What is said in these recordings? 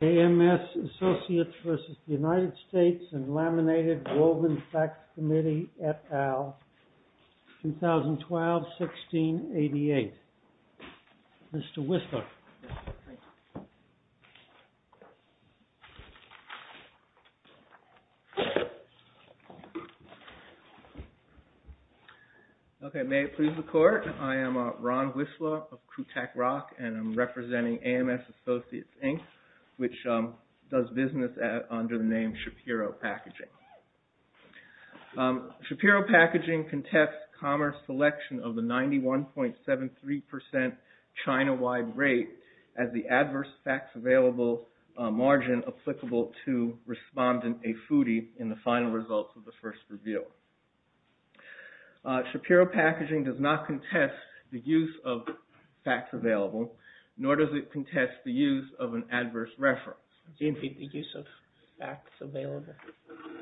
AMS ASSOCIATES, INC. v. United States and Laminated Woven Facts Committee, et al., 2012-1688. Mr. Whistler. Okay, may it please the Court, I am Ron Whistler of Kutak Rock which does business under the name Shapiro Packaging. Shapiro Packaging contests commerce selection of the 91.73% China-wide rate as the adverse facts available margin applicable to respondent, a foodie, in the final results of the first review. Shapiro Packaging does not contest the use of facts available, nor does it contest the use of an adverse reference. Do you mean the use of facts available?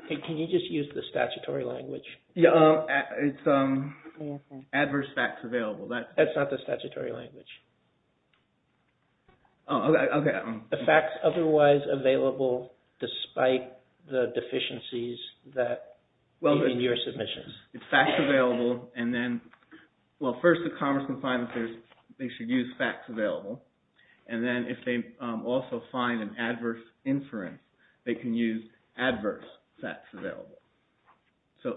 Can you just use the statutory language? Yeah, it's adverse facts available. That's not the statutory language. Oh, okay. The facts otherwise available despite the deficiencies that, well, in your submissions. It's facts available and then, well, first the commerce confinement, they should use facts available. And then if they also find an adverse inference, they can use adverse facts available.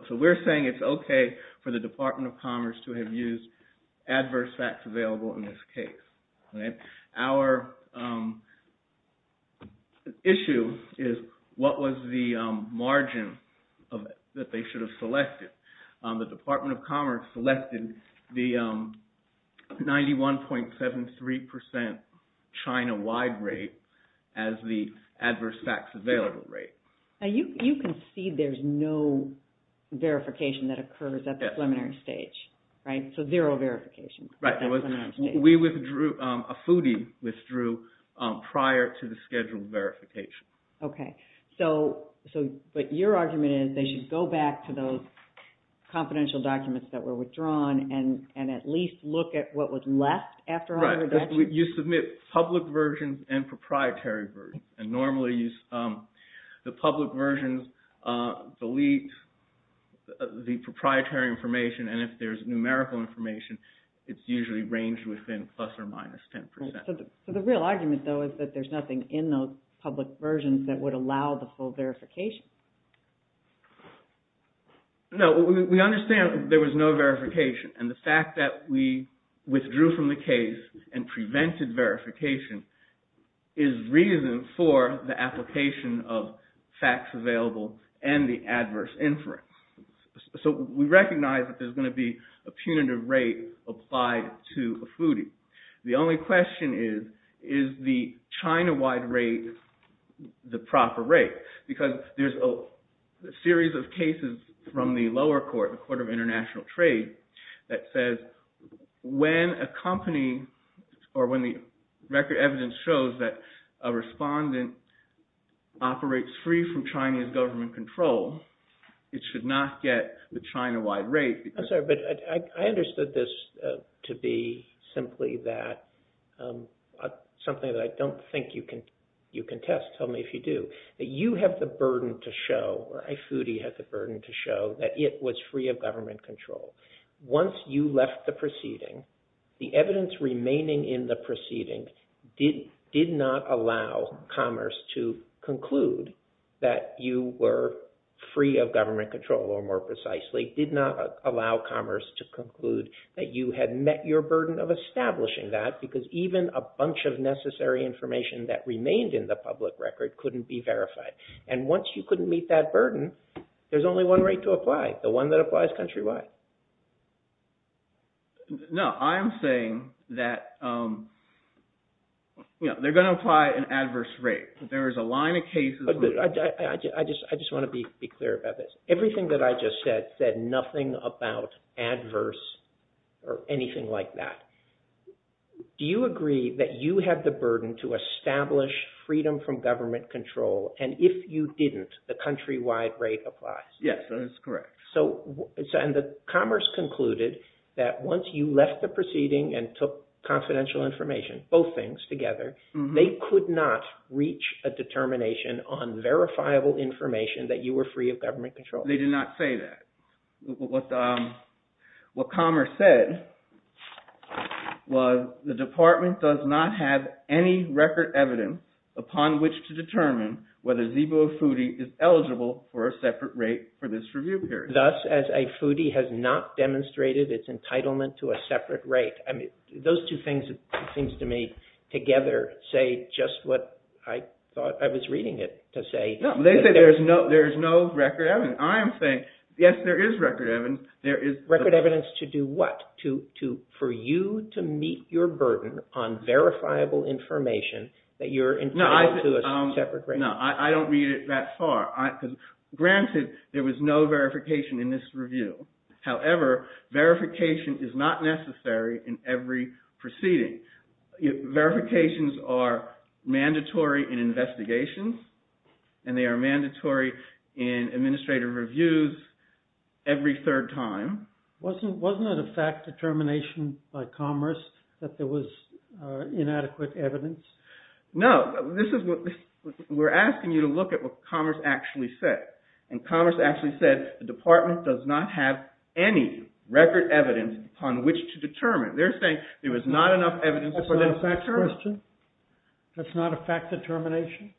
So we're saying it's okay for the Department of Commerce to have used adverse facts available in this case. Our issue is what was the margin that they should have selected? The Department of Commerce selected the 91.73% China-wide rate as the adverse facts available rate. Now you can see there's no verification that occurs at the preliminary stage, right? So zero verification. Right, we withdrew, a foodie withdrew prior to the scheduled verification. Okay, so but your argument is they should go back to those confidential documents that were withdrawn and at least look at what was left after all the reductions? Right, you submit public versions and proprietary versions. And normally the public versions delete the proprietary information and if there's numerical information, it's usually ranged within plus or minus 10%. So the real argument though is that there's nothing in those public versions that would allow the full verification. No, we understand there was no verification and the fact that we withdrew from the case and prevented verification is reason for the application of facts available and the adverse inference. So we recognize that there's gonna be a punitive rate applied to a foodie. The only question is, is the China-wide rate the proper rate? Because there's a series of cases from the lower court, the Court of International Trade, that says when a company or when the record evidence shows that a respondent operates free from Chinese government control, it should not get the China-wide rate. I'm sorry, but I understood this to be simply that something that I don't think you can test. Tell me if you do. You have the burden to show, or a foodie has the burden to show that it was free of government control. Once you left the proceeding, the evidence remaining in the proceeding did not allow commerce to conclude that you were free of government control, or more precisely, did not allow commerce to conclude that you had met your burden of establishing that because even a bunch of necessary information that remained in the public record couldn't be verified. And once you couldn't meet that burden, there's only one rate to apply, the one that applies country-wide. No, I'm saying that, they're gonna apply an adverse rate. There is a line of cases. I just wanna be clear about this. Everything that I just said said nothing about adverse or anything like that. Do you agree that you have the burden to establish freedom from government control? And if you didn't, the country-wide rate applies? Yes, that is correct. So, and the commerce concluded that once you left the proceeding and took confidential information, both things together, they could not reach a determination on verifiable information that you were free of government control. They did not say that. What commerce said was the department does not have any record evidence upon which to determine whether ZBO or FUTI is eligible for a separate rate for this review period. Thus, as a FUTI has not demonstrated its entitlement to a separate rate. I mean, those two things, it seems to me, together say just what I thought I was reading it to say. No, they say there's no record evidence. I am saying, yes, there is record evidence. There is- Record evidence to do what? For you to meet your burden on verifiable information that you're entitled to a separate rate. No, I don't read it that far. Granted, there was no verification in this review. However, verification is not necessary in every proceeding. Verifications are mandatory in investigations and they are mandatory in administrative reviews every third time. Wasn't it a fact determination by commerce that there was inadequate evidence? No, this is what, we're asking you to look at what commerce actually said. And commerce actually said the department does not have any record evidence upon which to determine. They're saying there was not enough evidence for them to determine. That's not a fact question? That's not a fact determination?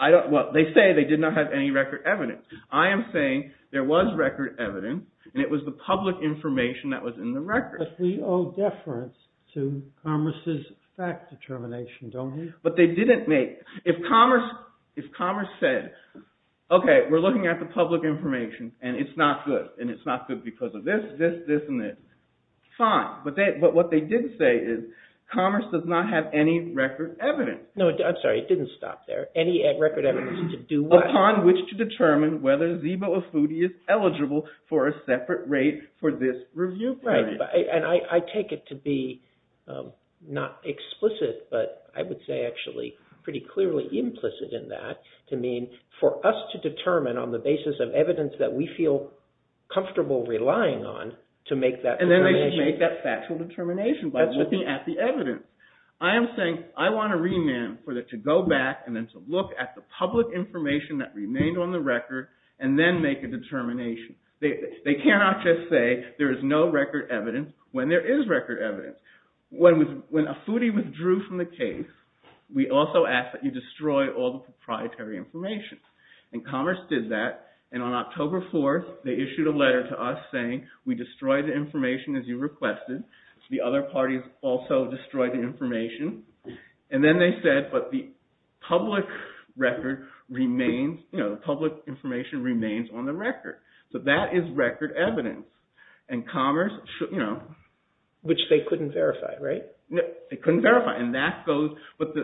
I don't, well, they say they did not have any record evidence. I am saying there was record evidence and it was the public information that was in the record. But we owe deference to commerce's fact determination, don't we? But they didn't make, if commerce said, okay, we're looking at the public information and it's not good, and it's not good because of this, this, this, and this. Fine, but what they did say is commerce does not have any record evidence. No, I'm sorry, it didn't stop there. Any record evidence to do what? Upon which to determine whether Zeebo Afudi is eligible for a separate rate for this review period. Right, and I take it to be not explicit, but I would say actually pretty clearly implicit in that, to mean for us to determine on the basis of evidence that we feel comfortable relying on to make that determination. And then they make that factual determination by looking at the evidence. I am saying I want a remand for it to go back and then to look at the public information that remained on the record and then make a determination. They cannot just say there is no record evidence when there is record evidence. When Afudi withdrew from the case, we also asked that you destroy all the proprietary information. And commerce did that. And on October 4th, they issued a letter to us saying, we destroyed the information as you requested. The other parties also destroyed the information. And then they said, but the public record remains, the public information remains on the record. So that is record evidence. And commerce should, you know. Which they couldn't verify, right? They couldn't verify. And that goes, but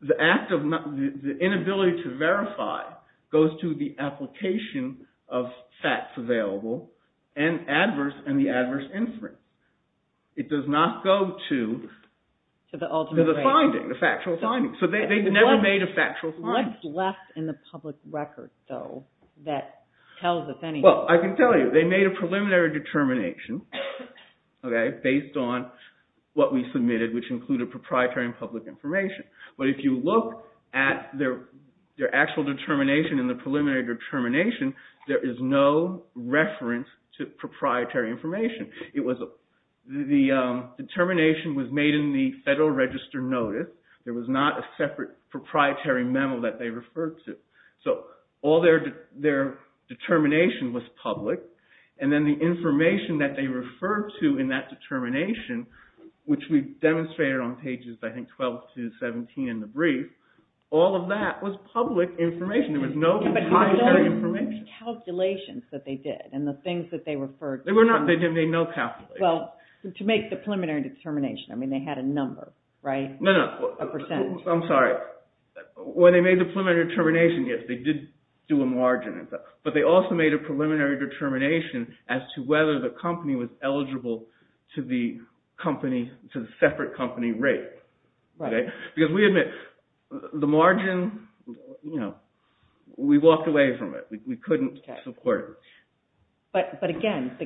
the inability to verify goes to the application of facts available and adverse and the adverse inference. It does not go to the finding, the factual finding. So they never made a factual. What's left in the public record though that tells us anything? Well, I can tell you. They made a preliminary determination, okay? Based on what we submitted, which included proprietary and public information. But if you look at their actual determination and the preliminary determination, there is no reference to proprietary information. It was, the determination was made in the Federal Register Notice. There was not a separate proprietary memo that they referred to. So all their determination was public. And then the information that they referred to in that determination, which we demonstrated on pages, I think, 12 to 17 in the brief, all of that was public information. There was no proprietary information. But there were no calculations that they did and the things that they referred to. They were not, they made no calculations. Well, to make the preliminary determination, I mean, they had a number, right? A percent. I'm sorry. When they made the preliminary determination, yes, they did do a margin. But they also made a preliminary determination as to whether the company was eligible to the company, to the separate company rate. Right. Because we admit, the margin, you know, we walked away from it. We couldn't support it. But again,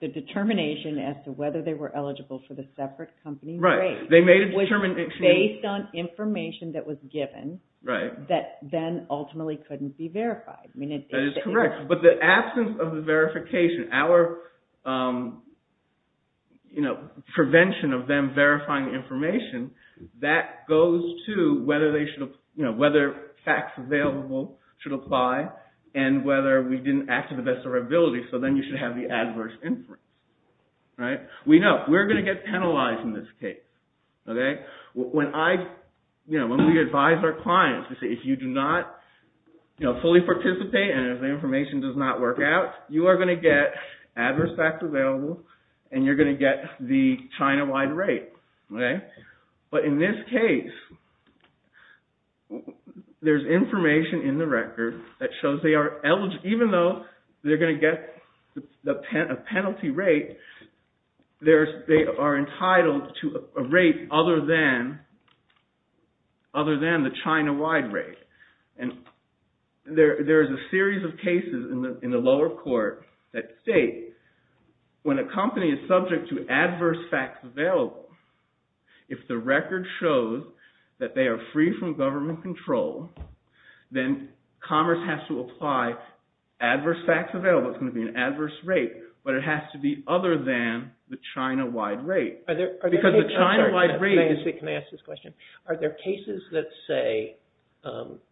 the determination as to whether they were eligible for the separate company rate. They made a determination. Based on information that was given. Right. That then ultimately couldn't be verified. I mean, it's. That is correct. But the absence of the verification, our, you know, prevention of them verifying the information, that goes to whether they should, you know, whether facts available should apply and whether we didn't act to the best of our ability. So then you should have the adverse inference. Right? We know, we're gonna get penalized in this case. Okay? When I, you know, when we advise our clients to say if you do not, you know, fully participate and if the information does not work out, you are gonna get adverse facts available and you're gonna get the China-wide rate. Okay? But in this case, there's information in the record that shows they are eligible, even though they're gonna get a penalty rate, they are entitled to a rate other than, other than the China-wide rate. And there is a series of cases in the lower court that state when a company is subject to adverse facts available, if the record shows that they are free from government control, then commerce has to apply adverse facts available. It's gonna be an adverse rate, but it has to be other than the China-wide rate. Because the China-wide rate is. Can I ask this question? Are there cases that say,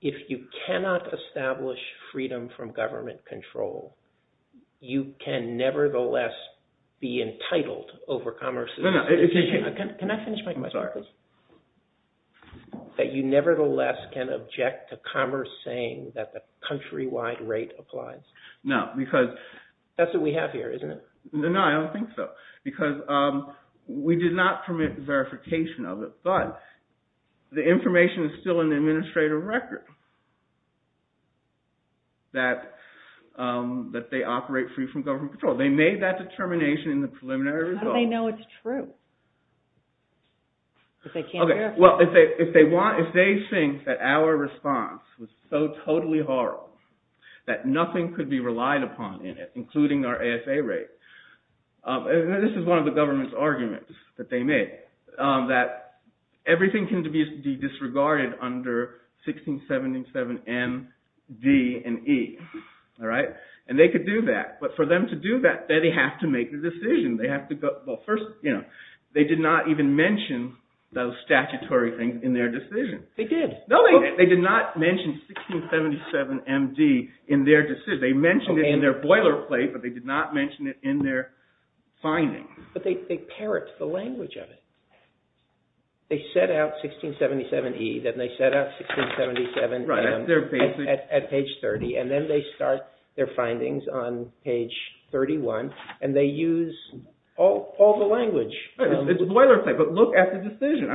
if you cannot establish freedom from government control, you can nevertheless be entitled over commerce? No, no. Can I finish my question? I'm sorry. That you nevertheless can object to commerce saying that the country-wide rate applies. No, because. That's what we have here, isn't it? No, I don't think so. Because we did not permit verification of it, but the information is still in the administrative record that they operate free from government control. They made that determination in the preliminary result. How do they know it's true? Well, if they think that our response was so totally horrible that nothing could be relied upon in it, including our ASA rate. This is one of the government's arguments that they made, that everything can be disregarded under 1677 M, D, and E. And they could do that. But for them to do that, they have to make a decision. They did not even mention those statutory things in their decision. They did. No, they did not mention 1677 M, D in their decision. They mentioned it in their boilerplate, but they did not mention it in their findings. But they parrot the language of it. They set out 1677 E, then they set out 1677 M at page 30, and then they start their findings on page 31, and they use all the language. It's a boilerplate, but look at the decision.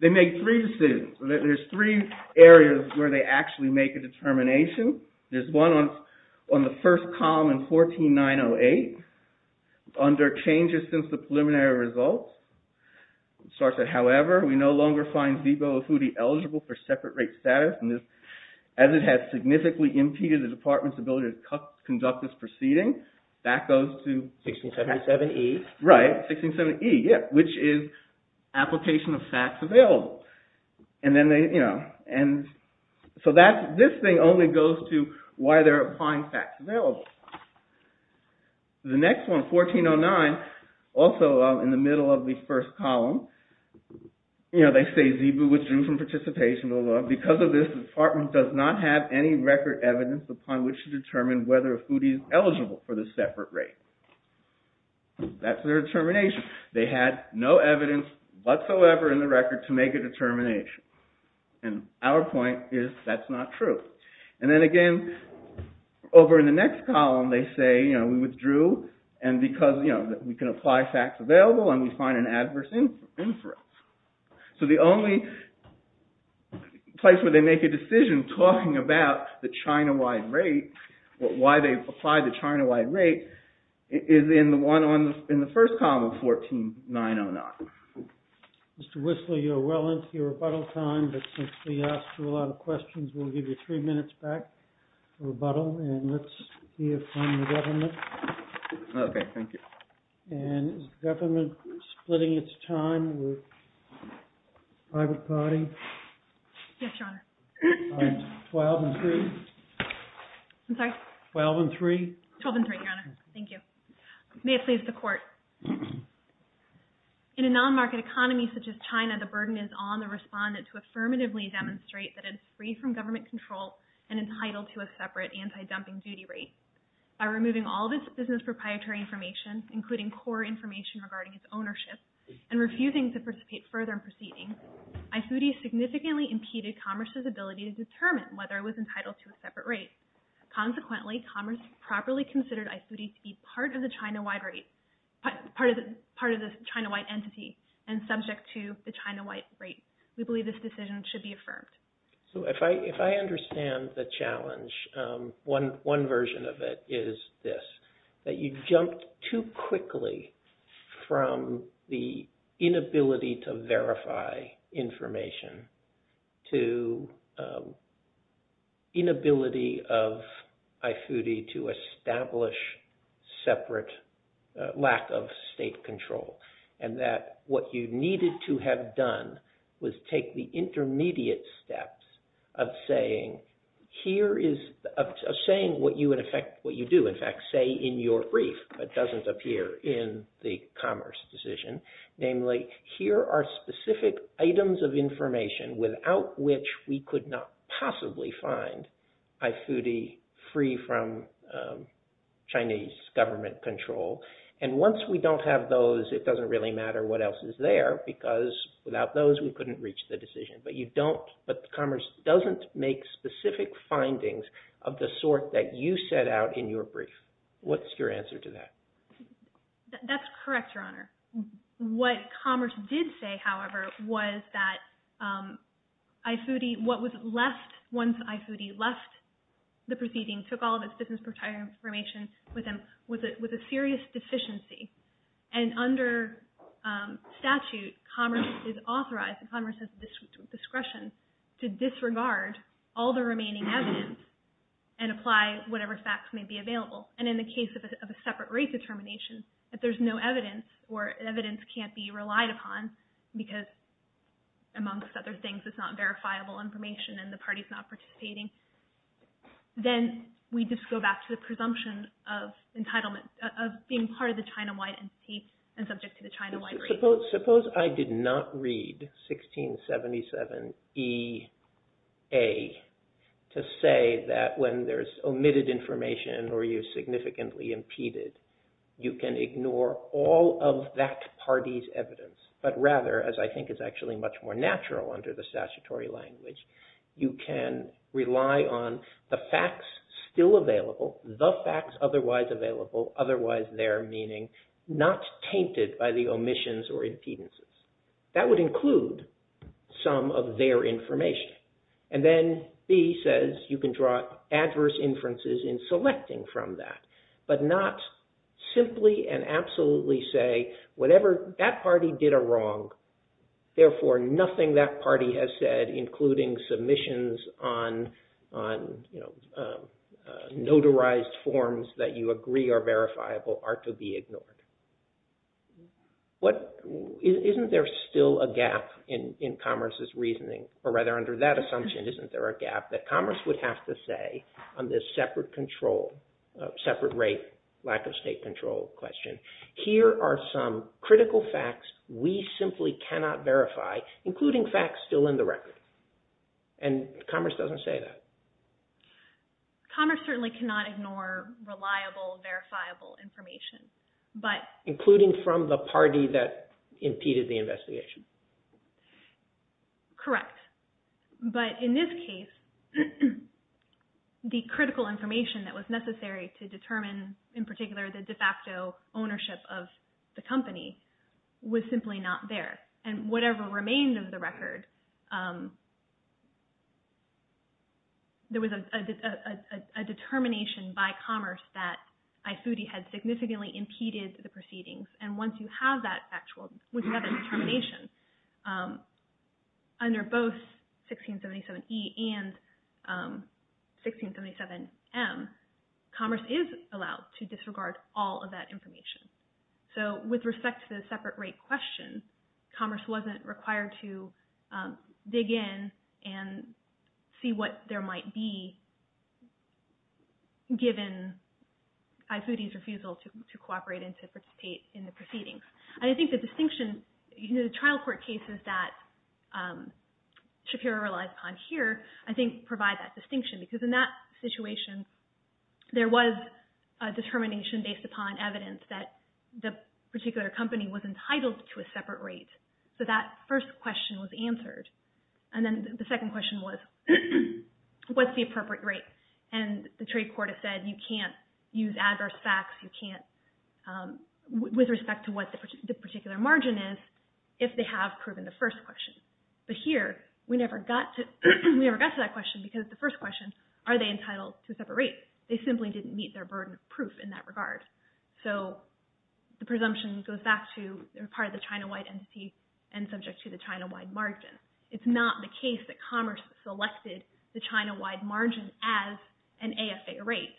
They make three decisions. There's three areas where they actually make a determination. There's one on the first column in 14908, under changes since the preliminary results. It starts at, however, we no longer find Zibo Afudi eligible for separate rate status, and as it has significantly impeded the department's ability to conduct this proceeding, that goes to 1677 E. Right, 1677 E, yeah, which is application of facts available, and then they, you know, and so this thing only goes to why they're applying facts available. The next one, 1409, also in the middle of the first column, you know, they say Zibo withdrew from participation, because of this, the department does not have any record evidence upon which to determine whether Afudi is eligible for the separate rate. That's their determination. They had no evidence whatsoever in the record to make a determination, and our point is that's not true, and then again, over in the next column, they say, you know, we withdrew, and because, you know, we can apply facts available, and we find an adverse inference, so the only place where they make a decision talking about the China-wide rate, why they apply the China-wide rate, is in the one on, in the first column of 14909. Mr. Whistler, you're well into your rebuttal time, but since we asked you a lot of questions, we'll give you three minutes back for rebuttal, and let's see if from the government. Okay, thank you. And is the government splitting its time with the private party? Yes, Your Honor. All right, 12 and three. I'm sorry? 12 and three. 12 and three, Your Honor, thank you. May it please the court. In a non-market economy such as China, the burden is on the respondent to affirmatively demonstrate that it's free from government control and entitled to a separate anti-dumping duty rate. By removing all of its business proprietary information, including core information regarding its ownership, and refusing to participate further in proceedings, I-40 significantly impeded commerce's ability to determine whether it was entitled to a separate rate. Consequently, commerce properly considered I-40 to be part of the China-wide rate, part of the China-wide entity, and subject to the China-wide rate. We believe this decision should be affirmed. So if I understand the challenge, one version of it is this, that you jumped too quickly from the inability to verify information to inability of I-40 to establish separate lack of state control, and that what you needed to have done was take the intermediate steps of saying, here is, of saying what you would effect, what you do, in fact, say in your brief, but doesn't appear in the commerce decision, namely, here are specific items of information without which we could not possibly find I-40 free from Chinese government control. And once we don't have those, it doesn't really matter what else is there, because without those, we couldn't reach the decision. But you don't, but commerce doesn't make specific findings of the sort that you set out in your brief. What's your answer to that? That's correct, Your Honor. What commerce did say, however, was that I-40, what was left once I-40 left the proceeding, took all of its business proprietary information with them, was a serious deficiency. And under statute, commerce is authorized, commerce has discretion to disregard all the remaining evidence and apply whatever facts may be available. And in the case of a separate rate determination, if there's no evidence or evidence can't be relied upon because, amongst other things, it's not verifiable information and the party's not participating, then we just go back to the presumption of entitlement, of being part of the China-wide entity and subject to the China-wide rate. Suppose I did not read 1677-E-A to say that when there's omitted information or you significantly impeded, you can ignore all of that party's evidence, but rather, as I think is actually much more natural under the statutory language, you can rely on the facts still available, the facts otherwise available, otherwise there, meaning not tainted by the omissions or impedances. That would include some of their information. And then B says you can draw adverse inferences in selecting from that, but not simply and absolutely say whatever that party did are wrong, therefore nothing that party has said, including submissions on, you know, notarized forms that you agree are verifiable are to be ignored. What, isn't there still a gap in commerce's reasoning, or rather under that assumption, isn't there a gap that commerce would have to say on this separate control, separate rate, lack of state control question, here are some critical facts we simply cannot verify, including facts still in the record. And commerce doesn't say that. Commerce certainly cannot ignore reliable, verifiable information, but- Including from the party that impeded the investigation. Correct, but in this case, the critical information that was necessary to determine, in particular, the de facto ownership of the company was simply not there. And whatever remained of the record, there was a determination by commerce that IFUTI had significantly impeded the proceedings, and once you have that actual, once you have that determination, under both 1677E and 1677M, commerce is allowed to disregard all of that information. So with respect to the separate rate question, commerce wasn't required to dig in and see what there might be given IFUTI's refusal to cooperate and to participate in the proceedings. And I think the distinction, the trial court cases that Shapiro relies upon here, I think provide that distinction, because in that situation, there was a determination based upon evidence that the particular company was entitled to a separate rate. So that first question was answered. And then the second question was, what's the appropriate rate? And the trade court has said you can't use adverse facts, you can't, with respect to what the particular margin is, if they have proven the first question. But here, we never got to that question, because the first question, are they entitled to a separate rate? They simply didn't meet their burden of proof in that regard. So the presumption goes back to, they're part of the China-wide entity and subject to the China-wide margin. It's not the case that commerce selected the China-wide margin as an AFA rate.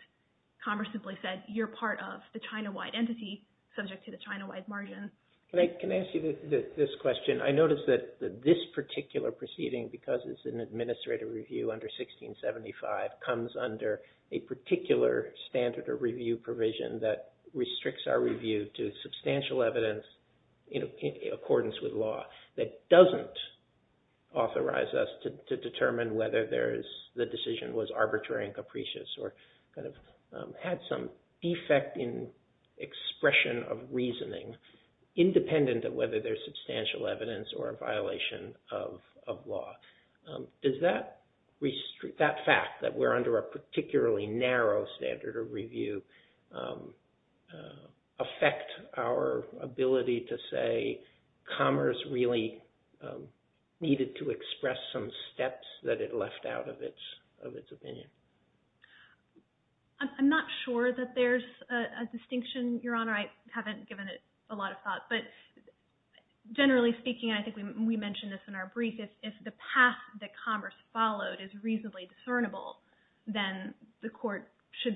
Commerce simply said, you're part of the China-wide entity, subject to the China-wide margin. Can I ask you this question? I noticed that this particular proceeding, because it's an administrative review under 1675, comes under a particular standard or review provision that restricts our review to substantial evidence in accordance with law, that doesn't authorize us to determine whether the decision was arbitrary and capricious or kind of had some defect in expression of reasoning, independent of whether there's substantial evidence or a violation of law. Does that fact that we're under a particularly narrow standard of review affect our ability to say, commerce really needed to express some steps that it left out of its opinion? I'm not sure that there's a distinction, Your Honor. I haven't given it a lot of thought, but generally speaking, I think we mentioned this in our brief, if the path that commerce followed is reasonably discernible then the court should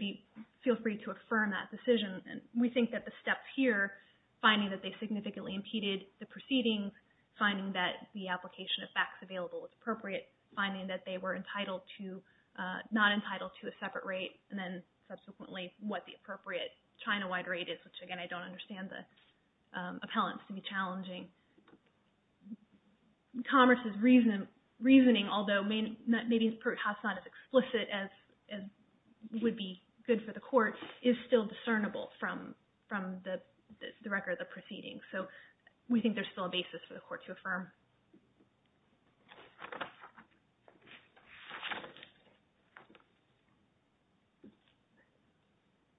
feel free to affirm that decision. We think that the steps here, finding that they significantly impeded the proceedings, finding that the application of facts available was appropriate, finding that they were not entitled to a separate rate and then subsequently what the appropriate China-wide rate is, which again, I don't understand the appellants to be challenging. Commerce's reasoning, although maybe perhaps not as explicit as would be good for the court, is still discernible from the record of the proceedings. So we think there's still a basis for the court to affirm. Thank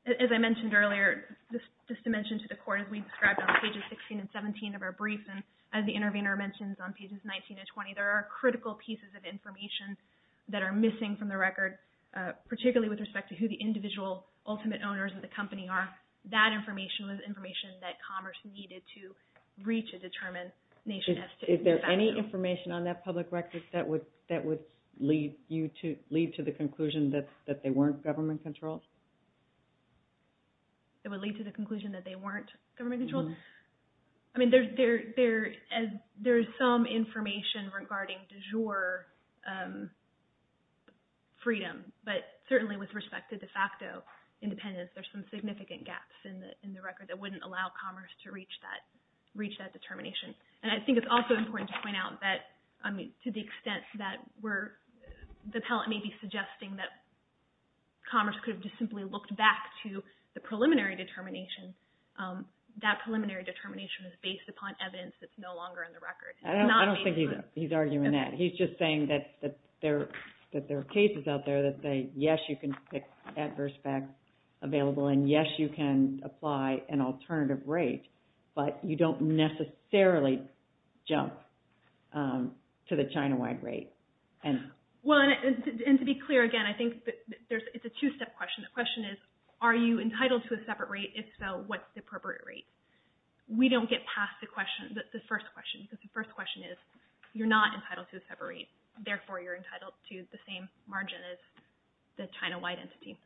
you. As I mentioned earlier, just to mention to the court, as we described on pages 16 and 17 of our brief and as the intervener mentioned on pages 19 and 20, there are critical pieces of information that are missing from the record, particularly with respect to who the individual ultimate owners of the company are. That information was information that commerce needed to reach a determined nation. Is there any information on that public record that would lead to the conclusion that they weren't government controlled? It would lead to the conclusion that they weren't government controlled? I mean, there's some information regarding du jour freedom, but certainly with respect to de facto independence, there's some significant gaps in the record that wouldn't allow commerce to reach that determination. And I think it's also important to point out that, I mean, to the extent that we're, the pellet may be suggesting that commerce could have just simply looked back to the preliminary determination. That preliminary determination is based upon evidence that's no longer in the record. I don't think he's arguing that. He's just saying that there are cases out there that say, yes, you can pick adverse facts available and yes, you can apply an alternative rate, but you don't necessarily jump. To the China-wide rate. Well, and to be clear again, I think it's a two-step question. The question is, are you entitled to a separate rate? If so, what's the appropriate rate? We don't get past the question, the first question, because the first question is, you're not entitled to a separate rate. Therefore, you're entitled to the same margin as the China-wide entity.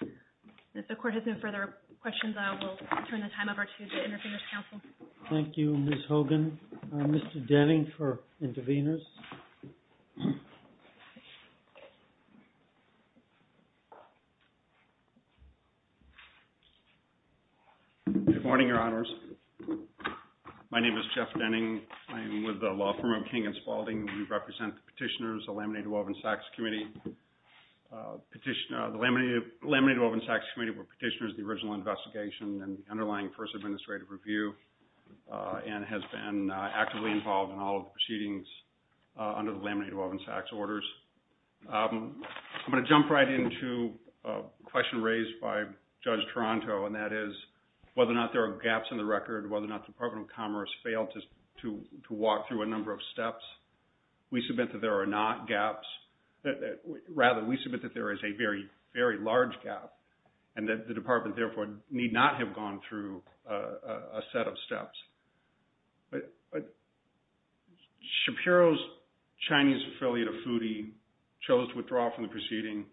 And if the court has no further questions, I will turn the time over to the Interveners Council. Thank you, Ms. Hogan. And Mr. Denning for Interveners. Good morning, your honors. My name is Jeff Denning. I'm with the law firm of King and Spalding. We represent the petitioners, the Laminated Woven Sacks Committee. The Laminated Woven Sacks Committee were petitioners of the original investigation and the underlying first administrative review and has been actively involved in all proceedings under the Laminated Woven Sacks orders. I'm gonna jump right into a question raised by Judge Toronto, and that is, whether or not there are gaps in the record, whether or not the Department of Commerce failed to walk through a number of steps. We submit that there are not gaps. Rather, we submit that there is a very, very large gap and that the department, therefore, need not have gone through a set of steps. Shapiro's Chinese affiliate, Afudi, chose to withdraw from the proceeding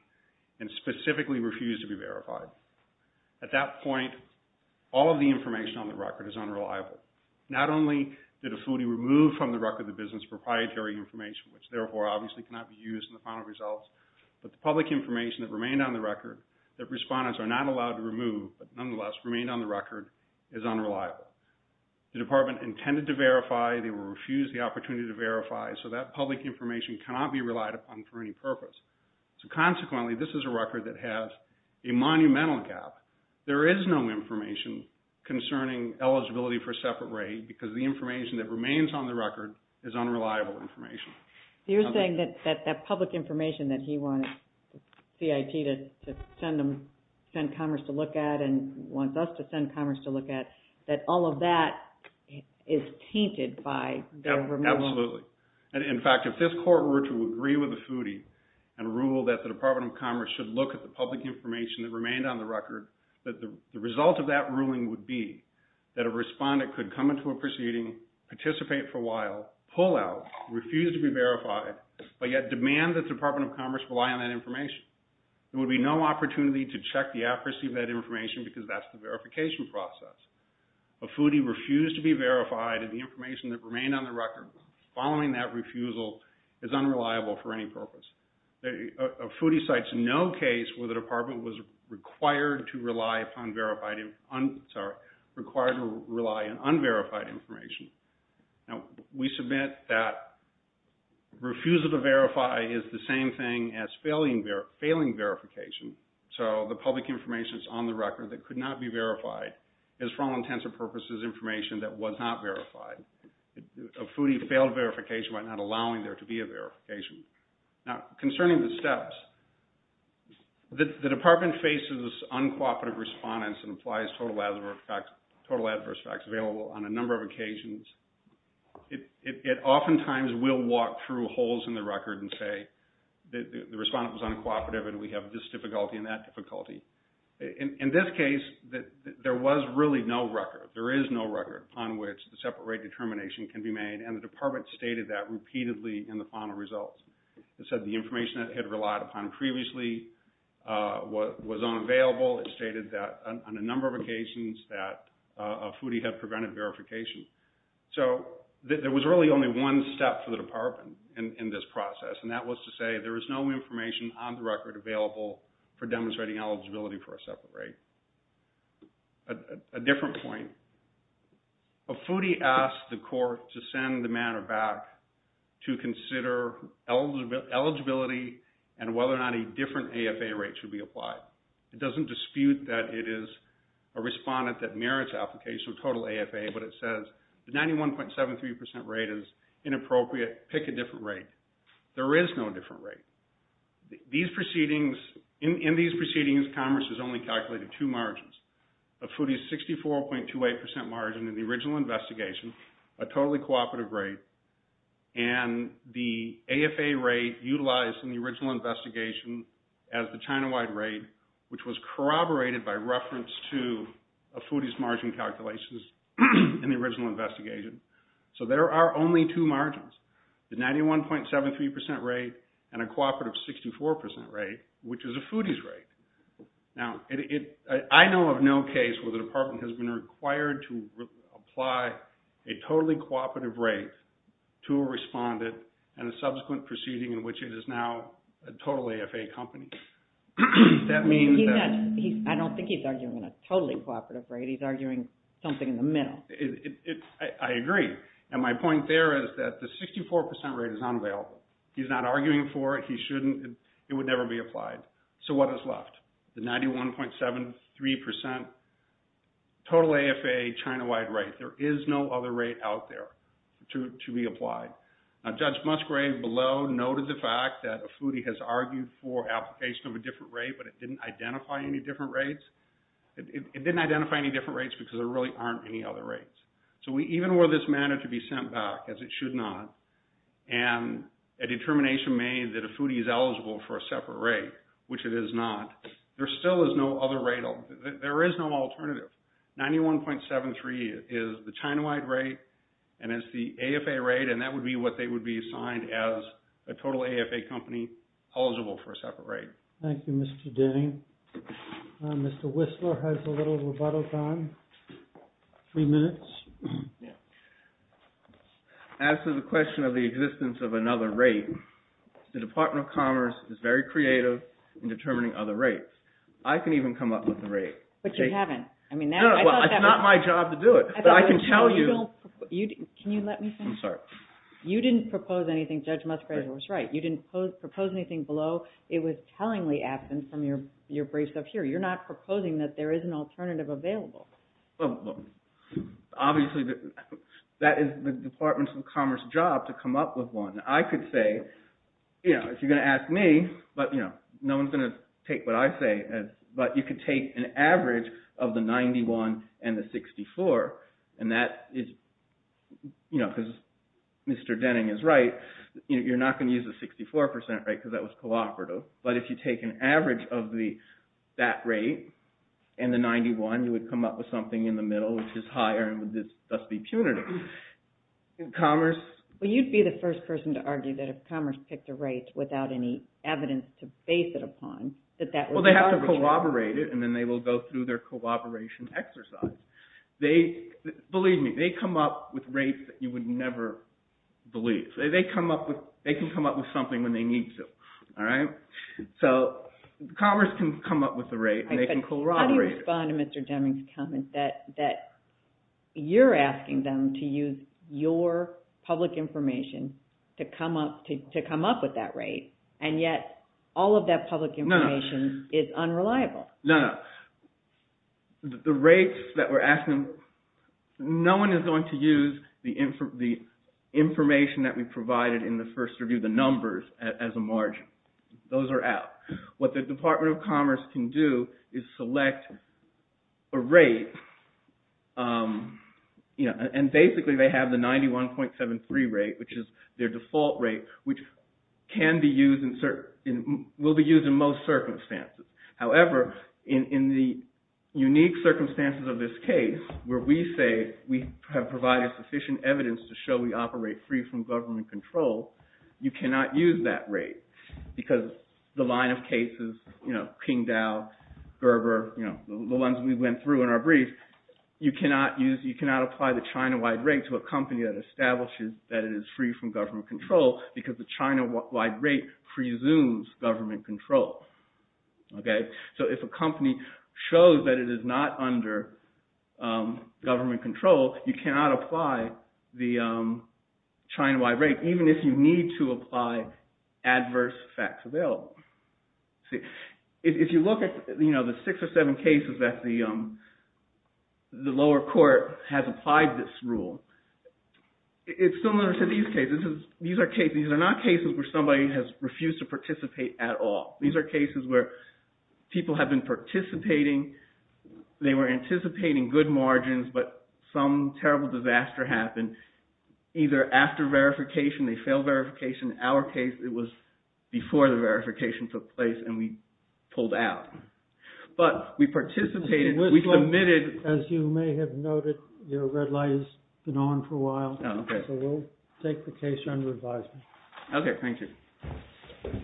and specifically refused to be verified. At that point, all of the information on the record is unreliable. Not only did Afudi remove from the record the business proprietary information, which therefore obviously cannot be used in the final results, but the public information that remained on the record that respondents are not allowed to remove, but nonetheless remained on the record, is unreliable. The department intended to verify, they were refused the opportunity to verify, so that public information cannot be relied upon for any purpose. So consequently, this is a record that has a monumental gap. There is no information concerning eligibility for a separate raid, because the information that remains on the record is unreliable information. You're saying that that public information that he wanted CIT to send Commerce to look at and wants us to send Commerce to look at, that all of that is tainted by their removal. Absolutely. And in fact, if this court were to agree with Afudi and rule that the Department of Commerce should look at the public information that remained on the record, that the result of that ruling would be that a respondent could come into a proceeding, participate for a while, pull out, refuse to be verified, but yet demand that the Department of Commerce rely on that information. There would be no opportunity to check the accuracy of that information because that's the verification process. Afudi refused to be verified and the information that remained on the record following that refusal is unreliable for any purpose. Afudi cites no case where the department was required to rely upon verified, sorry, required to rely on unverified information. Now, we submit that refusal to verify is the same thing as failing verification. So the public information that's on the record that could not be verified is for all intents and purposes information that was not verified. Afudi failed verification by not allowing there to be a verification. Now, concerning the steps, the department faces uncooperative respondents and applies total adverse effects available on a number of occasions. It oftentimes will walk through holes in the record and say the respondent was uncooperative and we have this difficulty and that difficulty. In this case, there was really no record, there is no record on which the separate rate determination can be made and the department stated that repeatedly in the final results. It said the information it had relied upon previously was unavailable. It stated that on a number of occasions that Afudi had prevented verification. So there was really only one step for the department in this process and that was to say there was no information on the record available for demonstrating eligibility for a separate rate. A different point. Afudi asked the court to send the matter back to consider eligibility and whether or not a different AFA rate should be applied. It doesn't dispute that it is a respondent that merits application of total AFA but it says the 91.73% rate is inappropriate, pick a different rate. There is no different rate. These proceedings, in these proceedings, Congress has only calculated two margins. Afudi's 64.28% margin in the original investigation, a totally cooperative rate and the AFA rate utilized in the original investigation as the China-wide rate which was corroborated by reference to Afudi's margin calculations in the original investigation. So there are only two margins, the 91.73% rate and a cooperative 64% rate which is Afudi's rate. Now, I know of no case where the department has been required to apply a totally cooperative rate to a respondent and a subsequent proceeding in which it is now a totally AFA company. That means that- I don't think he's arguing a totally cooperative rate, he's arguing something in the middle. I agree. And my point there is that the 64% rate is unavailable. He's not arguing for it, he shouldn't, it would never be applied. So what is left? The 91.73% total AFA China-wide rate. There is no other rate out there to be applied. Now, Judge Musgrave below noted the fact that Afudi has argued for application of a different rate but it didn't identify any different rates. It didn't identify any different rates because there really aren't any other rates. So even where this managed to be sent back as it should not and a determination made that Afudi is eligible for a separate rate, which it is not, there still is no other rate, there is no alternative. 91.73 is the China-wide rate and it's the AFA rate and that would be what they would be assigned as a total AFA company eligible for a separate rate. Thank you, Mr. Denning. Mr. Whistler has a little rebuttal time, three minutes. As to the question of the existence of another rate, the Department of Commerce is very creative in determining other rates. I can even come up with a rate. But you haven't. I mean, now I thought that was. No, it's not my job to do it, but I can tell you. Can you let me finish? You didn't propose anything, Judge Musgrave was right. You didn't propose anything below. It was tellingly absent from your briefs up here. You're not proposing that there is an alternative available. Well, obviously that is the Department of Commerce job to come up with one. I could say, if you're gonna ask me, but no one's gonna take what I say, but you could take an average of the 91 and the 64 and that is, you know, because Mr. Denning is right, you're not gonna use a 64% rate because that was cooperative. But if you take an average of that rate and the 91, you would come up with something in the middle, which is higher and would thus be punitive. Commerce. Well, you'd be the first person to argue that if Commerce picked a rate without any evidence to base it upon, that that would work. Well, they have to corroborate it and then they will go through their corroboration exercise. They, believe me, they come up with rates that you would never believe. They come up with, they can come up with something when they need to, all right? So Commerce can come up with a rate and they can corroborate it. How do you respond to Mr. Denning's comment that you're asking them to use your public information to come up with that rate and yet all of that public information is unreliable? No, no. The rates that we're asking, no one is going to use the information that we provided in the first review, the numbers, as a margin. Those are out. What the Department of Commerce can do is select a rate, and basically they have the 91.73 rate, which is their default rate, which can be used, will be used in most circumstances. However, in the unique circumstances of this case, where we say we have provided sufficient evidence to show we operate free from government control, you cannot use that rate because the line of cases, you know, King Dow, Gerber, you know, the ones we went through in our brief, you cannot use, you cannot apply the China-wide rate to a company that establishes that it is free from government control because the China-wide rate presumes government control. So if a company shows that it is not under government control, you cannot apply the China-wide rate, even if you need to apply adverse facts available. If you look at the six or seven cases that the lower court has applied this rule, it's similar to these cases. These are cases, these are not cases where somebody has refused to participate at all. These are cases where people have been participating, they were anticipating good margins, but some terrible disaster happened, either after verification, they failed verification. In our case, it was before the verification took place and we pulled out. But we participated, we submitted. As you may have noted, your red light has been on for a while. Oh, okay. So we'll take the case under advisement. Okay, thank you.